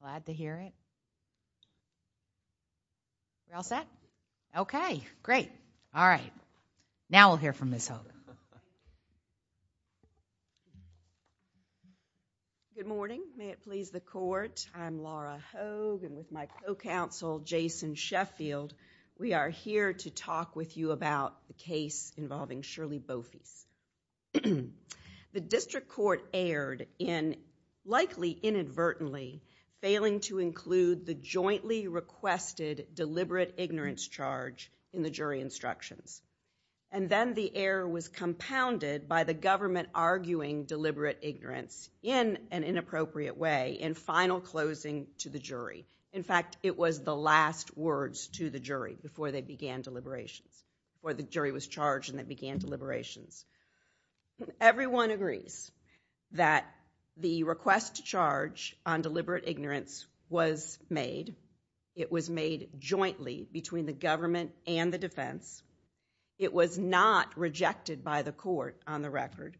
Glad to hear it. You're all set? Okay, great. All right. Now we'll hear from Ms. Hogan. Good morning. May it please the court, I'm Laura Hogan with my co-counsel Jason Sheffield. We are here to talk with you about the case involving Sherley Beaufils. The district court erred in likely inadvertently failing to include the jointly requested deliberate ignorance charge in the jury instructions. And then the error was compounded by the government arguing deliberate ignorance in an inappropriate way in final closing to the jury. In fact, it was the last words to the jury before they began deliberations, before the jury was charged and they began deliberations. Everyone agrees that the request to charge on deliberate ignorance was made. It was made jointly between the government and the defense. It was not rejected by the court on the record.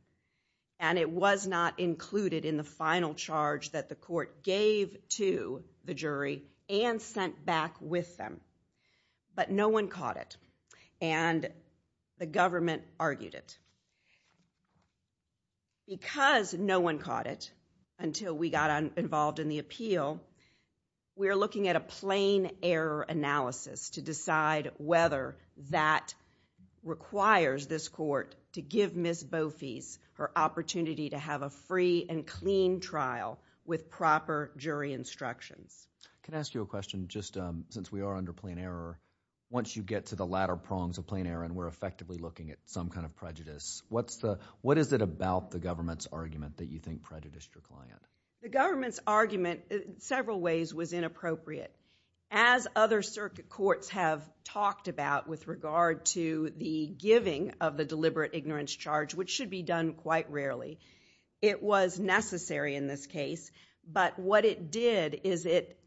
And it was not included in the final charge that the court argued it. Because no one caught it until we got involved in the appeal, we are looking at a plain error analysis to decide whether that requires this court to give Ms. Beaufils her opportunity to have a free and clean trial with proper jury instructions. Can I ask you a question? Just since we are under plain error, once you get to the latter point of looking at some kind of prejudice, what is it about the government's argument that you think prejudiced your client? The government's argument in several ways was inappropriate. As other circuit courts have talked about with regard to the giving of the deliberate ignorance charge, which should be done quite rarely, it was necessary in this case. But what it did is it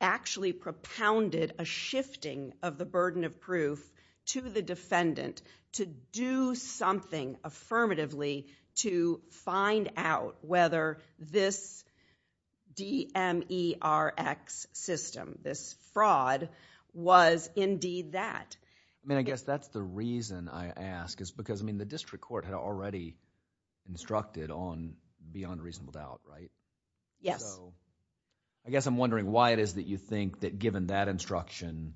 actually propounded a shifting of the burden of proof to the defendant to do something affirmatively to find out whether this DMERX system, this fraud, was indeed that. I guess that's the reason I ask is because the district court had already instructed on beyond reasonable doubt, right? Yes. I guess I'm wondering why it is that you think that given that instruction,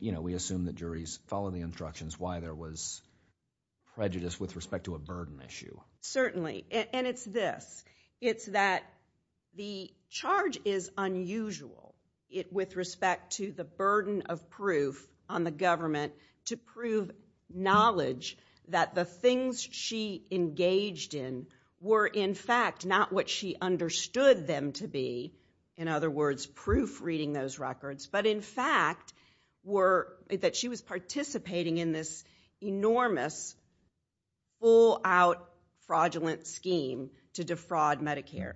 you know, we assume that juries follow the instructions, why there was prejudice with respect to a burden issue. Certainly. And it's this. It's that the charge is unusual with respect to the burden of proof on the government to prove knowledge that the things she engaged in were in fact not what she understood them to be, in other words, proof reading those records, but in fact were that she was participating in this enormous full out fraudulent scheme to defraud Medicare.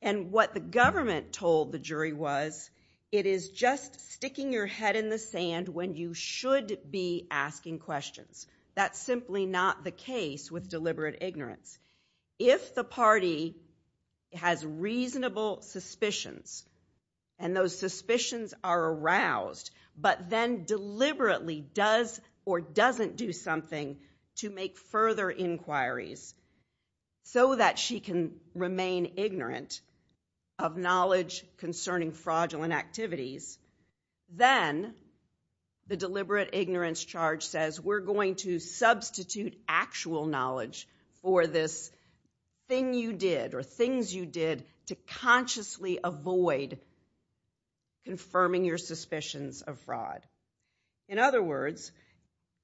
And what the government told the jury was, it is just sticking your head in the sand when you should be asking questions. That's simply not the case with deliberate ignorance. If the party has reasonable suspicions and those suspicions are aroused, but then deliberately does or doesn't do something to make further inquiries so that she can remain ignorant of knowledge concerning fraudulent activities, then the deliberate ignorance charge says we're going to substitute actual knowledge for this thing you did or things you did to consciously avoid confirming your suspicions of fraud. In other words,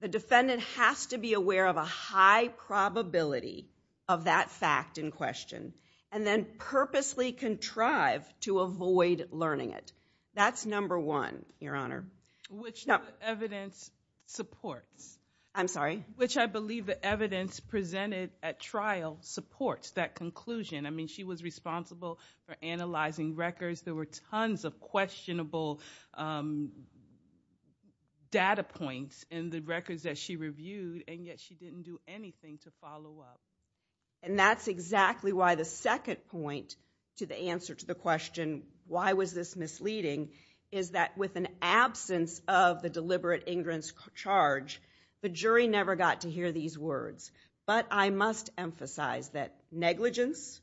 the defendant has to be aware of a high probability of that fact in question and then purposely contrive to avoid learning it. That's number one, your honor, which evidence supports. I'm sorry? Which I believe the evidence presented at trial supports that conclusion. I mean, she was responsible for analyzing records. There were tons of questionable data points in the records that she reviewed and yet she didn't do anything to follow up. And that's exactly why the second point to the answer to the question, why was this misleading, is that with an absence of the deliberate ignorance charge, the jury never got to hear these words. But I must emphasize that negligence,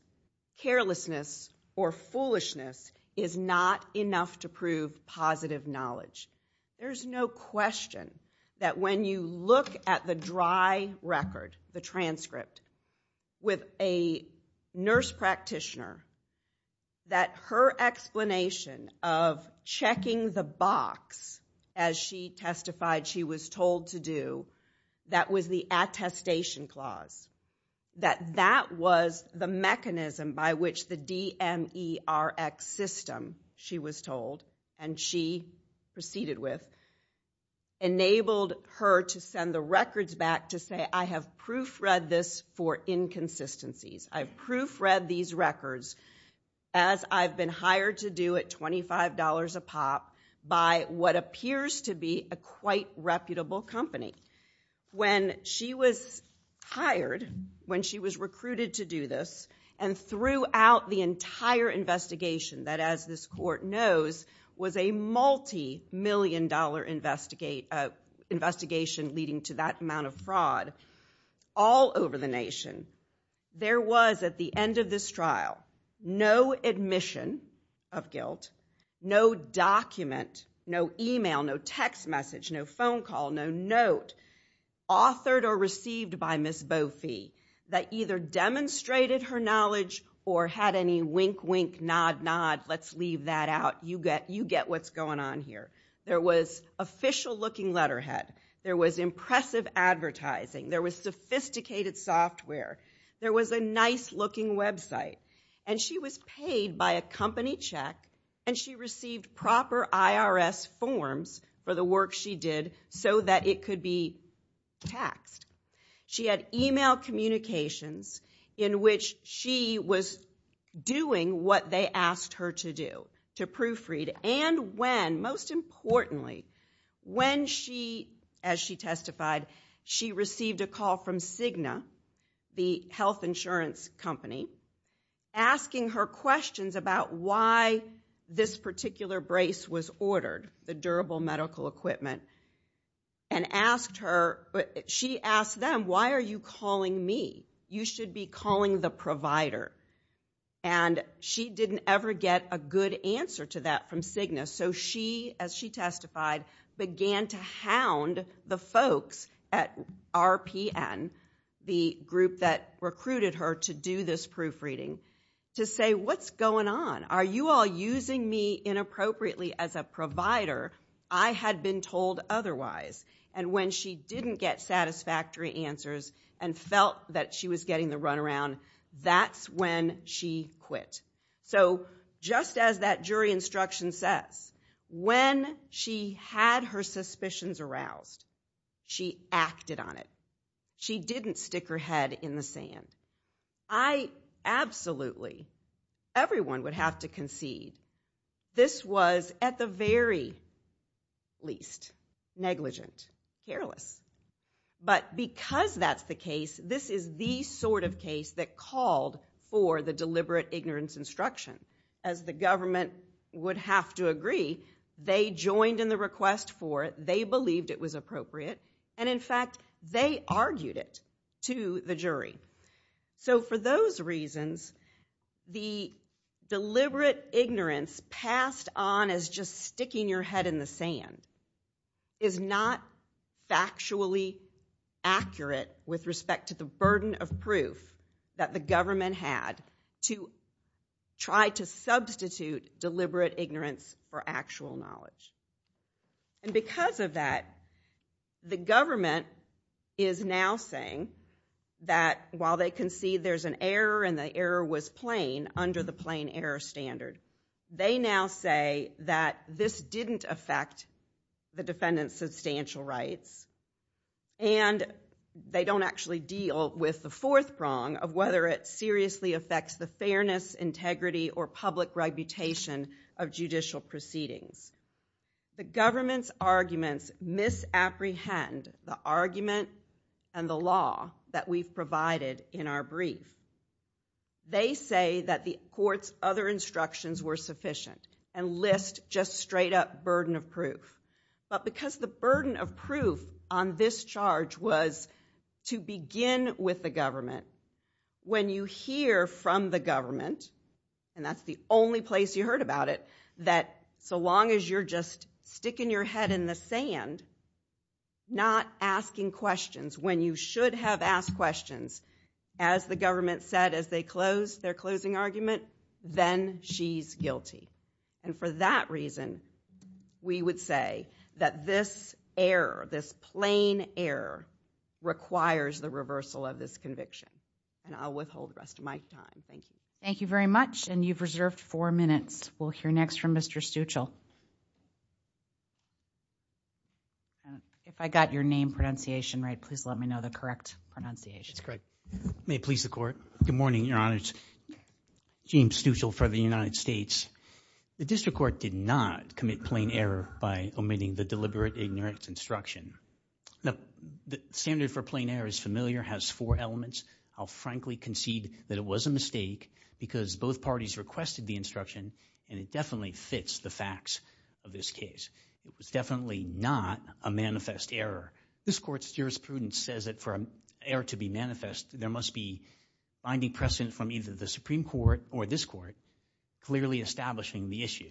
carelessness, or foolishness is not enough to prove positive knowledge. There's no question that when you look at the dry record, the transcript, with a nurse practitioner, that her explanation of checking the box as she testified she was told to do, that was the attestation clause, that that was the mechanism by which the DMERX system, she was told, and she proceeded with, enabled her to send the records back to say, I have proofread this for inconsistencies. I've proofread these records as I've been hired to do at $25 a pop by what appears to be a quite reputable company. When she was hired, when she was recruited to do this, and threw out the entire investigation that, as this court knows, was a multi-million dollar investigation leading to that amount of fraud all over the nation, there was, at the end of this trial, no admission of guilt, no document, no email, no text message, no phone call, no note authored or received by Ms. Bofi that either demonstrated her knowledge or had any wink, wink, nod, nod, let's leave that out. You get what's going on here. There was official looking letterhead. There was impressive advertising. There was sophisticated software. There was a nice looking website. And she was paid by a company check, and she received proper IRS forms for the work she did so that it could be taxed. She had email communications in which she was doing what they asked her to do, to proofread. And when, most importantly, when she, as she testified, she received a call from Cigna, the health insurance company, asking her questions about why this particular brace was ordered, the durable medical equipment, and asked her, she asked them, why are you calling me? You should be calling the provider. And she didn't ever get a good answer to that from Cigna. So she, as she testified, began to hound the folks at RPN, the group that recruited her to do this proofreading, to say, what's going on? Are you all using me inappropriately as a provider? I had been told otherwise. And when she didn't get satisfactory answers and felt that she was getting the runaround, that's when she quit. So just as that jury instruction says, when she had her suspicions aroused, she acted on it. She didn't stick her head in the sand. I, absolutely, everyone would have to concede. This was, at the very least, negligent, careless. But because that's the case, this is the sort of case that called for the deliberate ignorance instruction. As the government would have to argued it to the jury. So for those reasons, the deliberate ignorance passed on as just sticking your head in the sand is not factually accurate with respect to the burden of proof that the government had to try to substitute deliberate ignorance for actual knowledge. And because of that, the government is now saying that while they concede there's an error and the error was plain under the plain error standard, they now say that this didn't affect the defendant's substantial rights. And they don't actually deal with the fourth prong of whether it seriously affects the fairness, integrity, or public reputation of judicial proceedings. The government's misapprehend the argument and the law that we've provided in our brief. They say that the court's other instructions were sufficient and list just straight up burden of proof. But because the burden of proof on this charge was to begin with the government, when you hear from the government, and that's the only place you heard about it, that so long as you're just sticking your head in the sand, not asking questions when you should have asked questions, as the government said as they closed their closing argument, then she's guilty. And for that reason, we would say that this error, this plain error requires the reversal of this conviction. And I'll withhold the rest of my time. Thank you. Thank you very much. And you've reserved four minutes. We'll hear next from Mr. Stuchel. If I got your name pronunciation right, please let me know the correct pronunciation. That's correct. May it please the court. Good morning, your honor. It's James Stuchel for the United States. The district court did not commit plain error by omitting the deliberate ignorance instruction. The standard for plain error is familiar, has four elements. I'll frankly concede that it was a mistake because both parties requested the instruction and it definitely fits the facts of this case. It was definitely not a manifest error. This court's jurisprudence says that for an error to be manifest, there must be binding precedent from either the Supreme Court or this court clearly establishing the issue.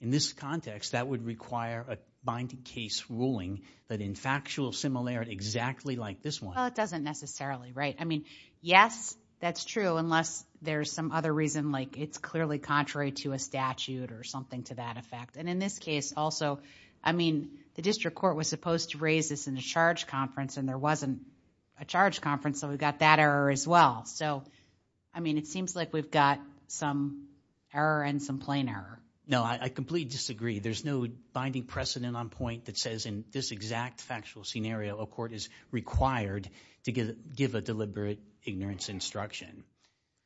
In this context, that would require a binding case ruling that in factual similarity exactly like this one. It doesn't necessarily, right? I mean, yes, that's true unless there's some other reason like it's clearly contrary to a statute or something to that effect. In this case also, I mean, the district court was supposed to raise this in the charge conference and there wasn't a charge conference so we've got that error as well. I mean, it seems like we've got some error and some plain error. No, I completely disagree. There's no binding precedent on point that says in this exact factual scenario, a court is required to give a deliberate ignorance instruction.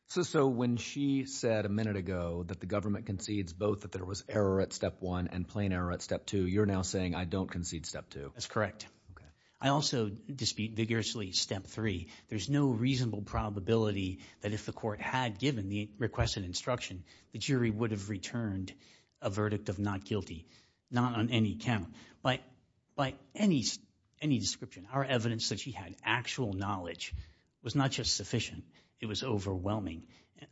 So when she said a minute ago that the government concedes both that there was error at step one and plain error at step two, you're now saying I don't concede step two. That's correct. Okay. I also dispute vigorously step three. There's no reasonable probability that if the court had given the requested instruction, the jury would have returned a verdict of not guilty, not on any count. But by any description, our evidence that she had actual knowledge was not just sufficient, it was overwhelming.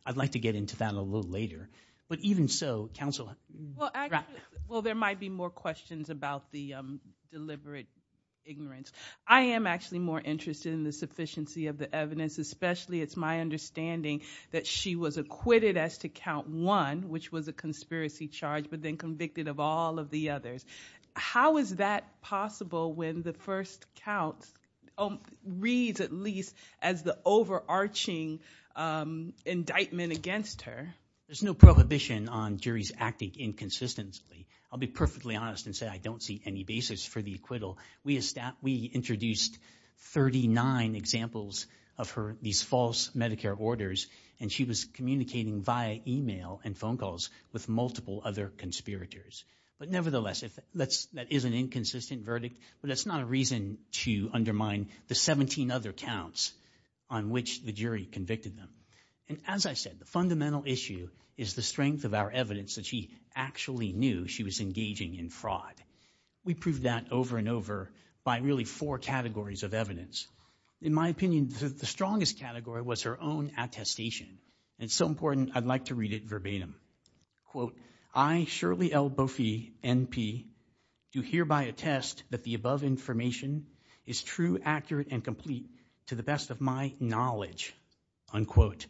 I'd like to get into that a little later. But even so, counsel. Well, there might be more questions about the deliberate ignorance. I am actually more interested in the sufficiency of the evidence, especially it's my understanding that she was acquitted as to count one, which was a conspiracy charge, but then convicted of all of the others. How is that possible when the first count reads at least as the overarching indictment against her? There's no prohibition on juries acting inconsistently. I'll be perfectly honest and say I don't see any basis for the acquittal. We introduced 39 examples of her, these false Medicare orders, and she was communicating via email and phone calls with multiple other conspirators. But nevertheless, that is an on which the jury convicted them. And as I said, the fundamental issue is the strength of our evidence that she actually knew she was engaging in fraud. We proved that over and over by really four categories of evidence. In my opinion, the strongest category was her own attestation. It's so important, I'd like to read it verbatim. Quote, I, Shirley L. Boffi, N.P., do hereby attest that the above information is true, accurate, and complete to the best of my knowledge. Unquote.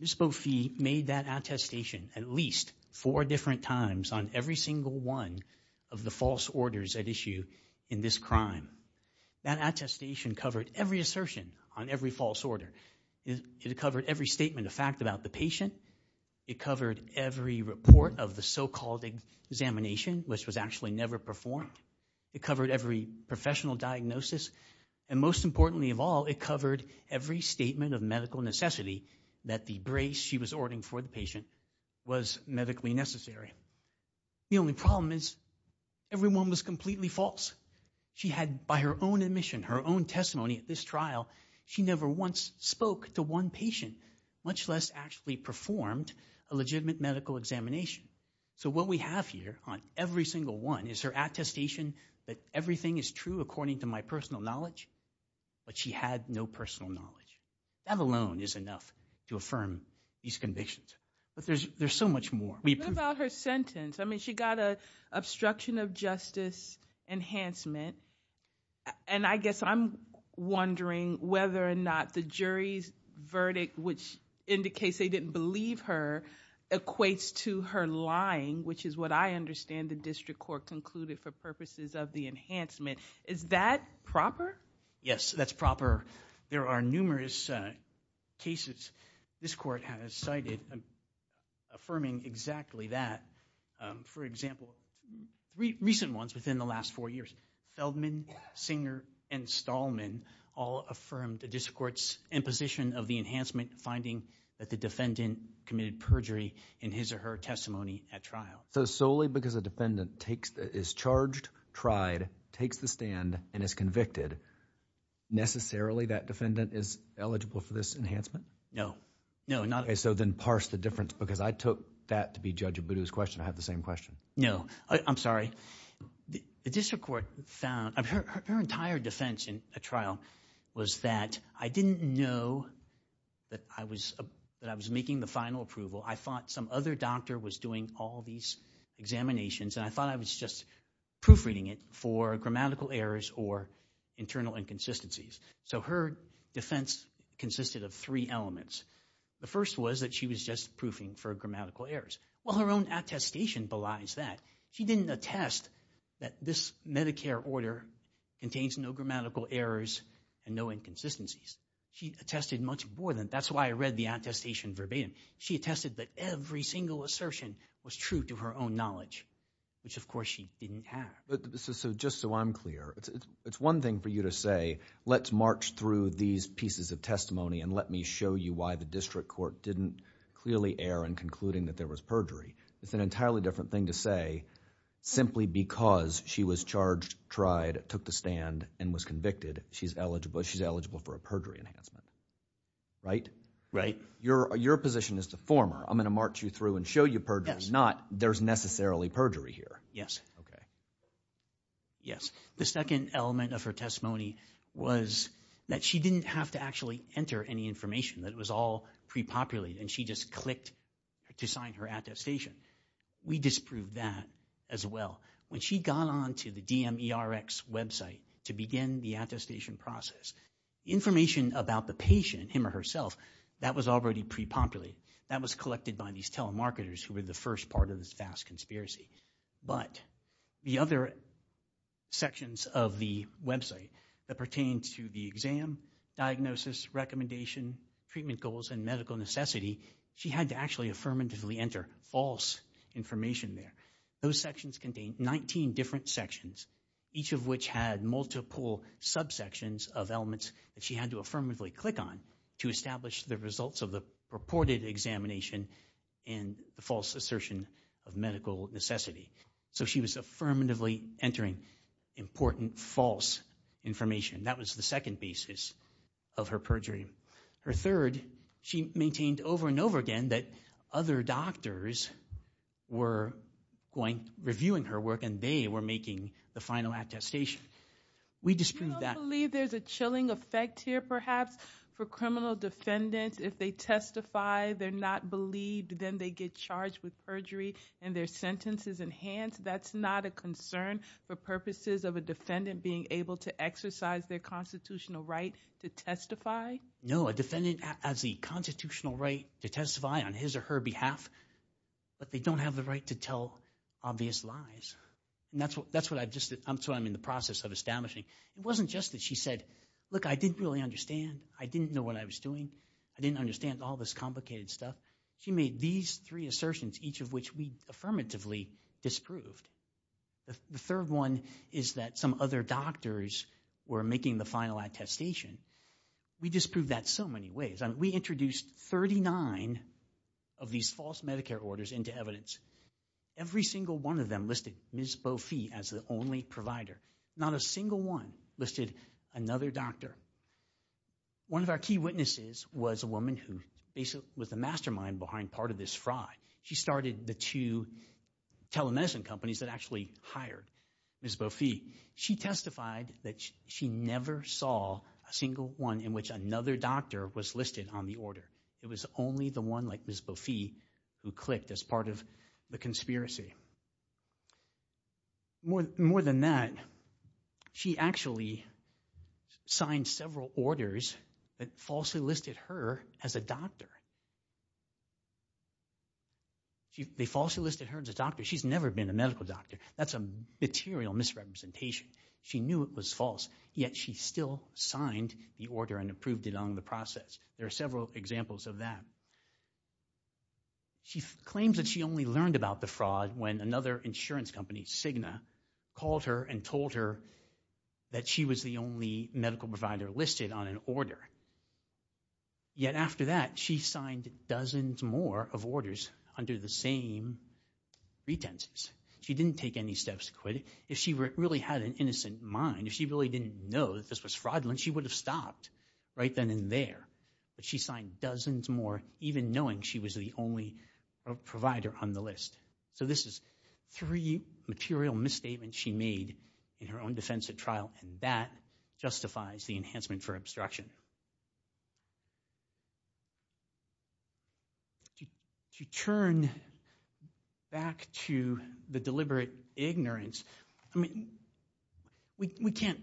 Ms. Boffi made that attestation at least four different times on every single one of the false orders at issue in this crime. That attestation covered every assertion on every false order. It covered every statement of fact about the patient. It covered every report of the so-called examination, which was actually never performed. It covered every professional diagnosis. And most importantly of all, it covered every statement of medical necessity that the brace she was ordering for the patient was medically necessary. The only problem is everyone was completely false. She had, by her own admission, her own testimony at this trial, she never once spoke to one patient, much less actually performed a legitimate medical examination. So what we have here on every single one is her attestation that everything is true according to my personal knowledge, but she had no personal knowledge. That alone is enough to affirm these convictions. But there's so much more. What about her sentence? I mean, she got an obstruction of justice enhancement, and I guess I'm wondering whether or not the jury's verdict, which indicates they didn't believe her, equates to her lying, which is what I understand the district court concluded for purposes of the enhancement. Is that proper? Yes, that's proper. There are numerous cases this court has cited affirming exactly that. For example, recent ones within the last four years, Feldman, Singer, and Stallman all affirmed the district court's imposition of the enhancement finding that the defendant committed perjury in his or her testimony at trial. So solely because a defendant is charged, tried, takes the stand, and is convicted, necessarily that defendant is eligible for this enhancement? No. Okay, so then parse the difference, because I took that to be his question. I have the same question. No, I'm sorry. The district court found her entire defense in a trial was that I didn't know that I was making the final approval. I thought some other doctor was doing all these examinations, and I thought I was just proofreading it for grammatical errors or internal inconsistencies. So her defense consisted of three elements. The first was that she was just proofing for grammatical errors. Well, her own attestation belies that. She didn't attest that this Medicare order contains no grammatical errors and no inconsistencies. She attested much more than that. That's why I read the attestation verbatim. She attested that every single assertion was true to her own knowledge, which of course she didn't have. But just so I'm clear, it's one thing for you to say, let's march through these pieces of testimony and let me show you why the district court didn't clearly err in concluding that there was perjury. It's an entirely different thing to say simply because she was charged, tried, took the stand, and was convicted, she's eligible. She's eligible for a perjury enhancement, right? Right. Your position is to form her. I'm going to march you through and show you perjury, not there's necessarily perjury here. Yes. Okay. Yes. The second element of her testimony was that she didn't have to actually enter any information that was all pre-populated and she just clicked to sign her attestation. We disproved that as well. When she got onto the DMERX website to begin the attestation process, information about the patient, him or herself, that was already pre-populated. That was collected by these telemarketers who were the first part of this vast conspiracy. But the other sections of the website that pertain to the exam, diagnosis, recommendation, treatment goals, and medical necessity, she had to actually affirmatively enter false information there. Those sections contained 19 different sections, each of which had multiple subsections of elements that she had to affirmatively click on to establish the results of the reported examination and the false assertion of medical necessity. So she was affirmatively entering important false information. That was the second basis of her perjury. Her third, she maintained over and over again that other doctors were going reviewing her work and they were making the final attestation. We disproved that. I believe there's a chilling effect here perhaps for criminal defendants. If they testify, they're not believed, then they get charged with perjury and their sentence is enhanced. That's not a concern for purposes of a defendant being able to exercise their constitutional right to testify? No, a defendant has the constitutional right to testify on his or her behalf, but they don't have the right to tell obvious lies. That's what I'm in the process of establishing. It wasn't just that she said, look, I didn't really understand. I didn't know what I was doing. I didn't understand all this complicated stuff. She made these three assertions, each of which we affirmatively disproved. The third one is that some other doctors were making the final attestation. We disproved that so many ways. We introduced 39 of these false Medicare orders into evidence. Every single one of them listed Ms. Bofi as the only provider. Not a single one listed another doctor. One of our key witnesses was a woman who basically was the mastermind behind part of this fraud. She started the two telemedicine companies that actually hired Ms. Bofi. She testified that she never saw a single one in which another doctor was listed on the order. It was only the one like Ms. Bofi who More than that, she actually signed several orders that falsely listed her as a doctor. They falsely listed her as a doctor. She's never been a medical doctor. That's a material misrepresentation. She knew it was false, yet she still signed the order and approved it on the process. There are several examples of that. She claims that she only learned about the fraud when another insurance company, Cigna, called her and told her that she was the only medical provider listed on an order. Yet after that, she signed dozens more of orders under the same pretenses. She didn't take any steps to quit. If she really had an innocent mind, if she really didn't know that this was even knowing she was the only provider on the list. This is three material misstatements she made in her own defense at trial. That justifies the enhancement for obstruction. If you turn back to the deliberate ignorance, we can't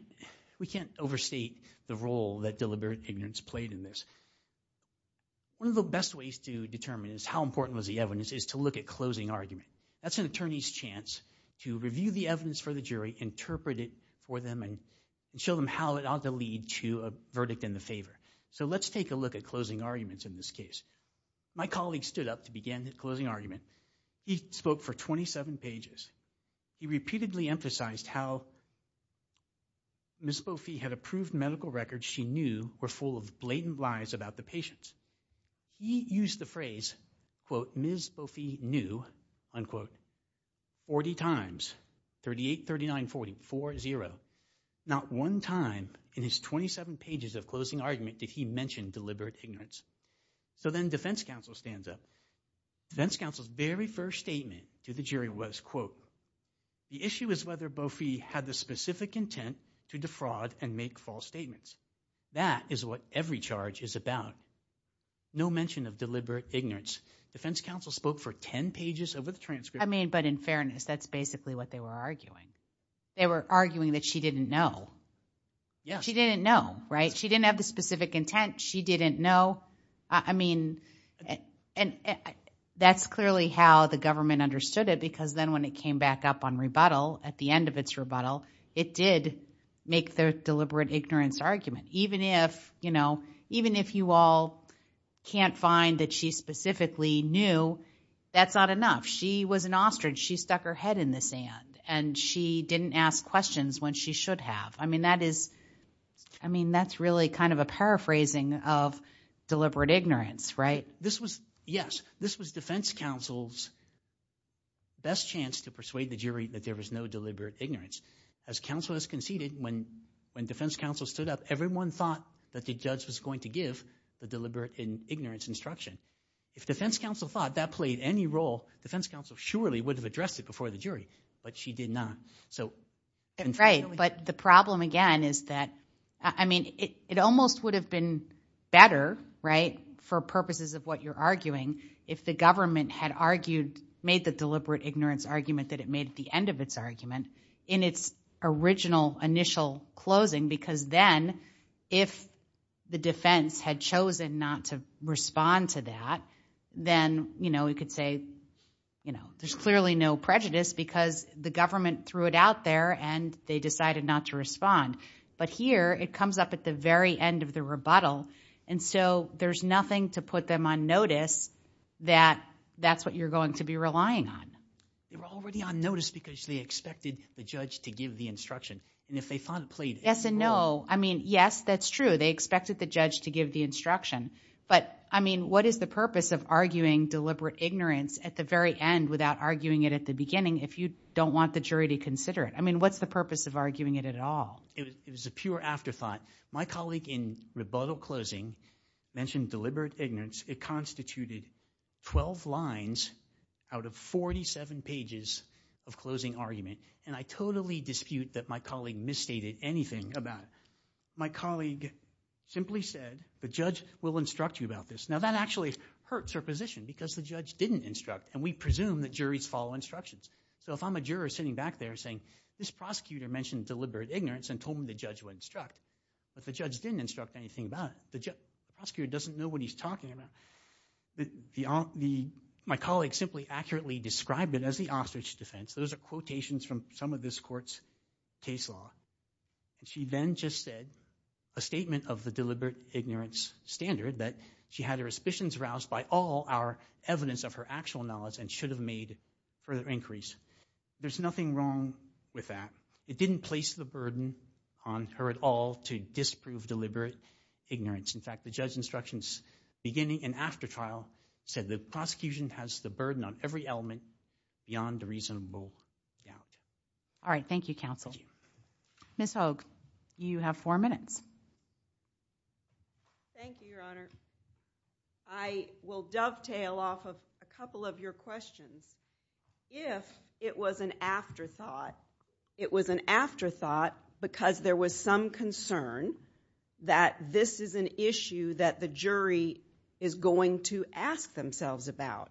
overstate the role that deliberate ignorance plays. The best way to determine how important was the evidence is to look at closing argument. That's an attorney's chance to review the evidence for the jury, interpret it for them, and show them how it ought to lead to a verdict in the favor. Let's take a look at closing arguments in this case. My colleague stood up to begin the closing argument. He spoke for 27 pages. He repeatedly emphasized how Ms. Bofi had approved medical records she knew were full of blatant lies about the patients. He used the phrase, quote, Ms. Bofi knew, unquote, 40 times, 38, 39, 40, 4, 0. Not one time in his 27 pages of closing argument did he mention deliberate ignorance. So then defense counsel stands up. Defense counsel's very first statement to the jury was, quote, the issue is whether Bofi had the specific intent to defraud and make false statements. That is what every charge is about. No mention of deliberate ignorance. Defense counsel spoke for 10 pages of the transcript. I mean, but in fairness, that's basically what they were arguing. They were arguing that she didn't know. She didn't know, right? She didn't have the specific intent. She didn't know. I mean, and that's clearly how the government understood it, because then when it came back up on rebuttal, at the end of its rebuttal, it did make the deliberate ignorance argument. Even if, you know, even if you all can't find that she specifically knew, that's not enough. She was an ostrich. She stuck her head in the sand and she didn't ask questions when she should have. I mean, that is, I mean, that's really kind of a paraphrasing of deliberate ignorance, right? This was, yes, this was defense counsel's best chance to persuade the jury that there was no deliberate ignorance. As counsel has conceded, when defense counsel stood up, everyone thought that the judge was going to give the deliberate ignorance instruction. If defense counsel thought that played any role, defense counsel surely would have addressed it before the jury, but she did not. Right, but the problem again is that, I mean, it almost would have been better, right, for purposes of what you're arguing, if the government had argued, made the deliberate ignorance argument that it made at the end of its argument in its original initial closing, because then if the defense had chosen not to respond to that, then, you know, we could say, you know, there's clearly no prejudice because the government threw it out there and they decided not to respond. But here it comes up at the very end of the rebuttal. And so there's nothing to put them on notice that that's what you're going to be relying on. They were already on notice because they expected the judge to give the instruction. And if they thought it played... Yes and no. I mean, yes, that's true. They expected the judge to give the instruction. But, I mean, what is the purpose of arguing deliberate ignorance at the very end without arguing it at the beginning if you don't want the jury to consider it? I mean, what's the purpose of arguing it at all? It was a pure afterthought. My colleague in rebuttal closing mentioned deliberate ignorance. It constituted 12 lines out of 47 pages of closing argument. And I totally dispute that my colleague misstated anything about it. My colleague simply said, the judge will instruct you about this. Now that actually hurts her position because the judge didn't instruct and we presume that juries follow instructions. So if I'm a juror sitting back there saying, this prosecutor mentioned deliberate ignorance and told me the judge would instruct, but the judge didn't instruct anything about it. The prosecutor doesn't know what he's talking about. My colleague simply accurately described it as the ostrich defense. Those are quotations from some of this court's case law. She then just said a statement of the deliberate ignorance standard that she had her suspicions roused by all our evidence of her actual knowledge and should have made further inquiries. There's nothing wrong with that. It didn't place the burden on her at all to disprove deliberate ignorance. In fact, the judge's instructions beginning and after trial said the prosecution has the burden on every element beyond a reasonable doubt. All right. Thank you, counsel. Ms. Hogue, you have four minutes. Thank you, your honor. I will dovetail off of a couple of your questions. If it was an afterthought, it was an afterthought because there was some concern that this is an issue that the jury is going to ask themselves about.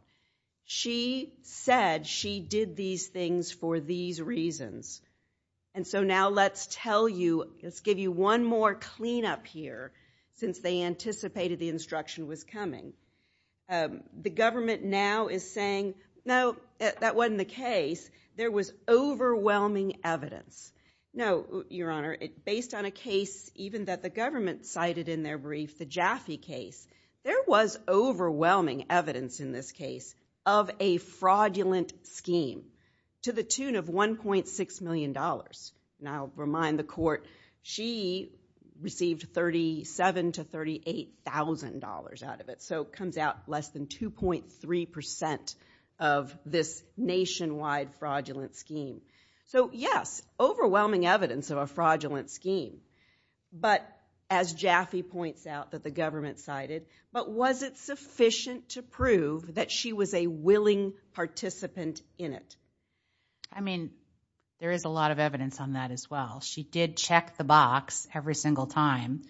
She said she did these things for these reasons. And so now let's tell you, let's give you one more cleanup here since they anticipated the evidence. No, your honor. Based on a case even that the government cited in their brief, the Jaffe case, there was overwhelming evidence in this case of a fraudulent scheme to the tune of $1.6 million. And I'll remind the court, she received $37,000 to $38,000 out of it. So it comes out less than 2.3% of this nationwide fraudulent scheme. So yes, overwhelming evidence of a fraudulent scheme. But as Jaffe points out that the government cited, but was it sufficient to prove that she was a willing participant in it? I mean, there is a lot of evidence on that as well. She did check the box every single time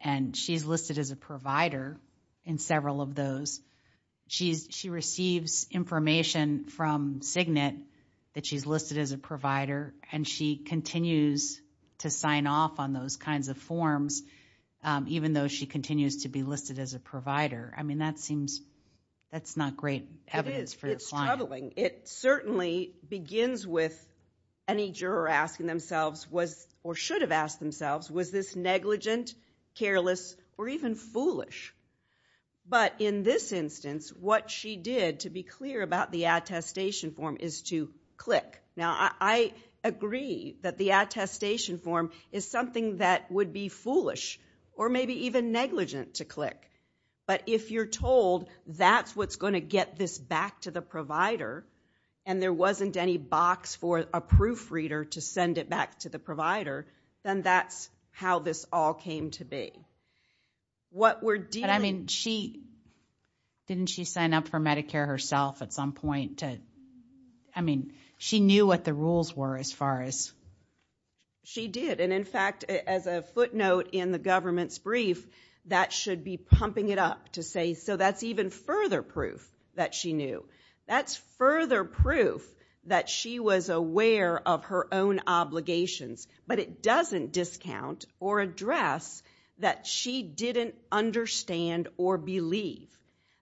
and she's listed as a provider in several of those. She receives information from Cygnet that she's listed as a provider and she continues to sign off on those kinds of forms even though she continues to be listed as a provider. I mean, that seems, that's not great evidence for the client. It is. It's troubling. It certainly begins with any juror asking themselves was, or should have asked themselves, was this negligent, careless, or even foolish? But in this instance, what she did to be clear about the attestation form is to click. Now I agree that the attestation form is something that would be foolish or maybe even negligent to click. But if you're told that's what's going to get this back to the provider and there wasn't any box for a proofreader to send it back to the provider, then that's how this all came to be. What we're dealing... But I mean, she, didn't she sign up for Medicare herself at some point to, I mean, she knew what the rules were as far as... She did. And in fact, as a footnote in the government's brief, that should be pumping it to say, so that's even further proof that she knew. That's further proof that she was aware of her own obligations. But it doesn't discount or address that she didn't understand or believe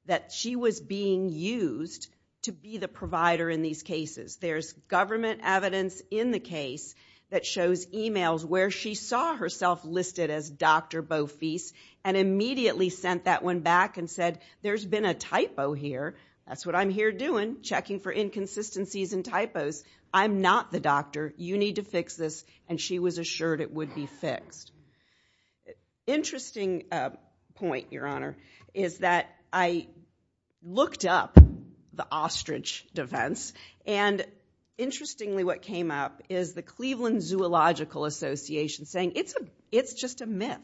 that she was being used to be the provider in these cases. There's government evidence in the case that shows emails where she saw herself listed as Dr. Bofis and immediately sent that one back and said, there's been a typo here. That's what I'm here doing, checking for inconsistencies and typos. I'm not the doctor. You need to fix this. And she was assured it would be fixed. Interesting point, Your Honor, is that I looked up the ostrich defense. And interestingly, what came up is the Cleveland Zoological Association saying it's just a myth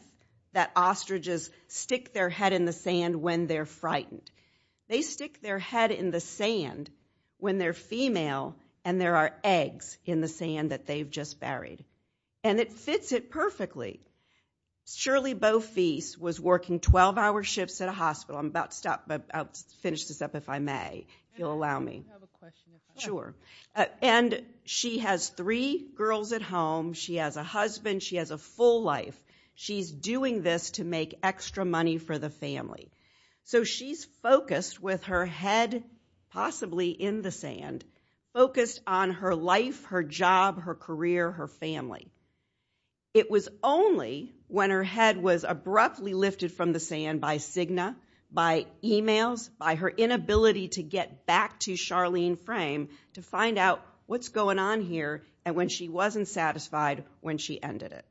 that when they're frightened, they stick their head in the sand when they're female and there are eggs in the sand that they've just buried. And it fits it perfectly. Shirley Bofis was working 12-hour shifts at a hospital. I'm about to stop, but I'll finish this up if I may, if you'll allow me. Sure. And she has three girls at home. She has a husband. She has a full life. She's doing this to make extra money for the family. So she's focused with her head, possibly in the sand, focused on her life, her job, her career, her family. It was only when her head was abruptly lifted from the sand by Cigna, by emails, by her inability to get back to Charlene Frame to find out what's going on here and when she wasn't satisfied when she ended it.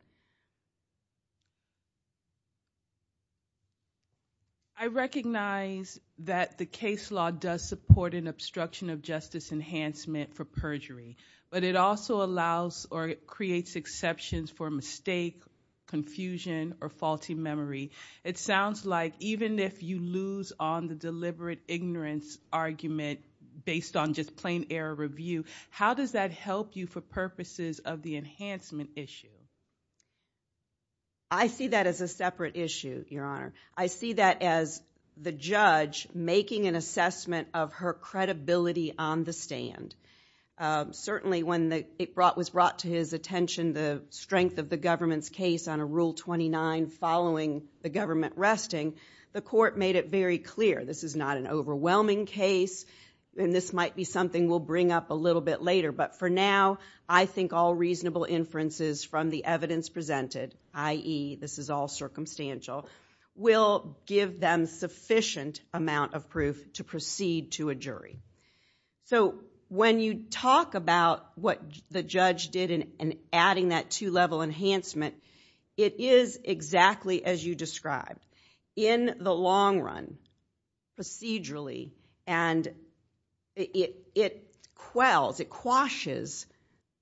I recognize that the case law does support an obstruction of justice enhancement for perjury, but it also allows or creates exceptions for mistake, confusion, or faulty memory. It sounds like even if you lose on the deliberate ignorance argument based on just plain error review, how does that help you for purposes of the enhancement issue? I see that as a separate issue, Your Honor. I see that as the judge making an assessment of her credibility on the stand. Certainly when it was brought to his attention, the strength of the government's case on a Rule 29 following the government resting, the court made it very clear this is not an overwhelming case, and this might be something we'll bring up a little bit later. But for now, I think all reasonable inferences from the evidence presented, i.e., this is all circumstantial, will give them sufficient amount of proof to proceed to a jury. So when you talk about what the judge did in adding that two-level enhancement, it is exactly as you described. In the long run, procedurally, and it quells, it quashes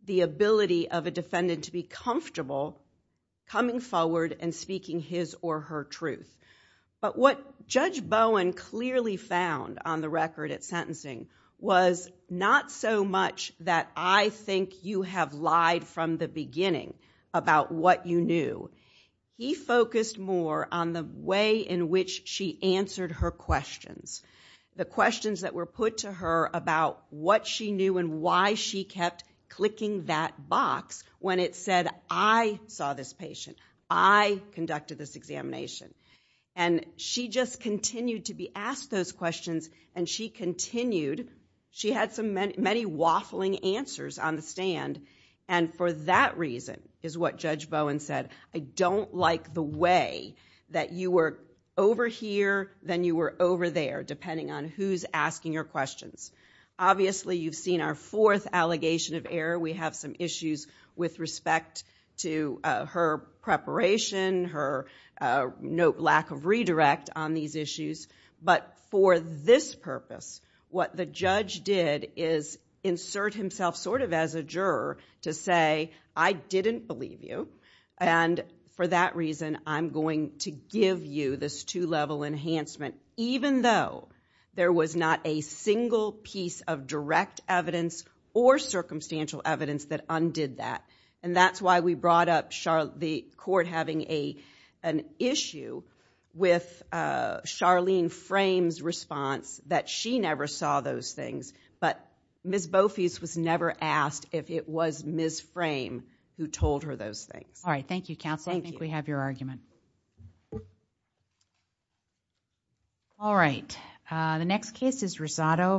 the ability of a defendant to be comfortable coming forward and speaking his or her truth. But what Judge Bowen clearly found on the record at sentencing was not so much that I think you have lied from the beginning about what you knew. He focused more on the way in which she answered her questions, the questions that were put to her about what she knew and why she kept clicking that box when it said, I saw this patient, I conducted this examination. And she just And for that reason, is what Judge Bowen said, I don't like the way that you were over here, then you were over there, depending on who's asking your questions. Obviously, you've seen our fourth allegation of error. We have some issues with respect to her preparation, her lack of redirect on these issues. But for this purpose, what the judge did is insert himself as a juror to say, I didn't believe you. And for that reason, I'm going to give you this two-level enhancement, even though there was not a single piece of direct evidence or circumstantial evidence that undid that. And that's why we brought up the court having an issue with Charlene Frame's response that she never saw those things. But Ms. Bofis was never asked if it was Ms. Frame who told her those things. All right. Thank you, counsel. I think we have your argument. All right. The next case is Rosado.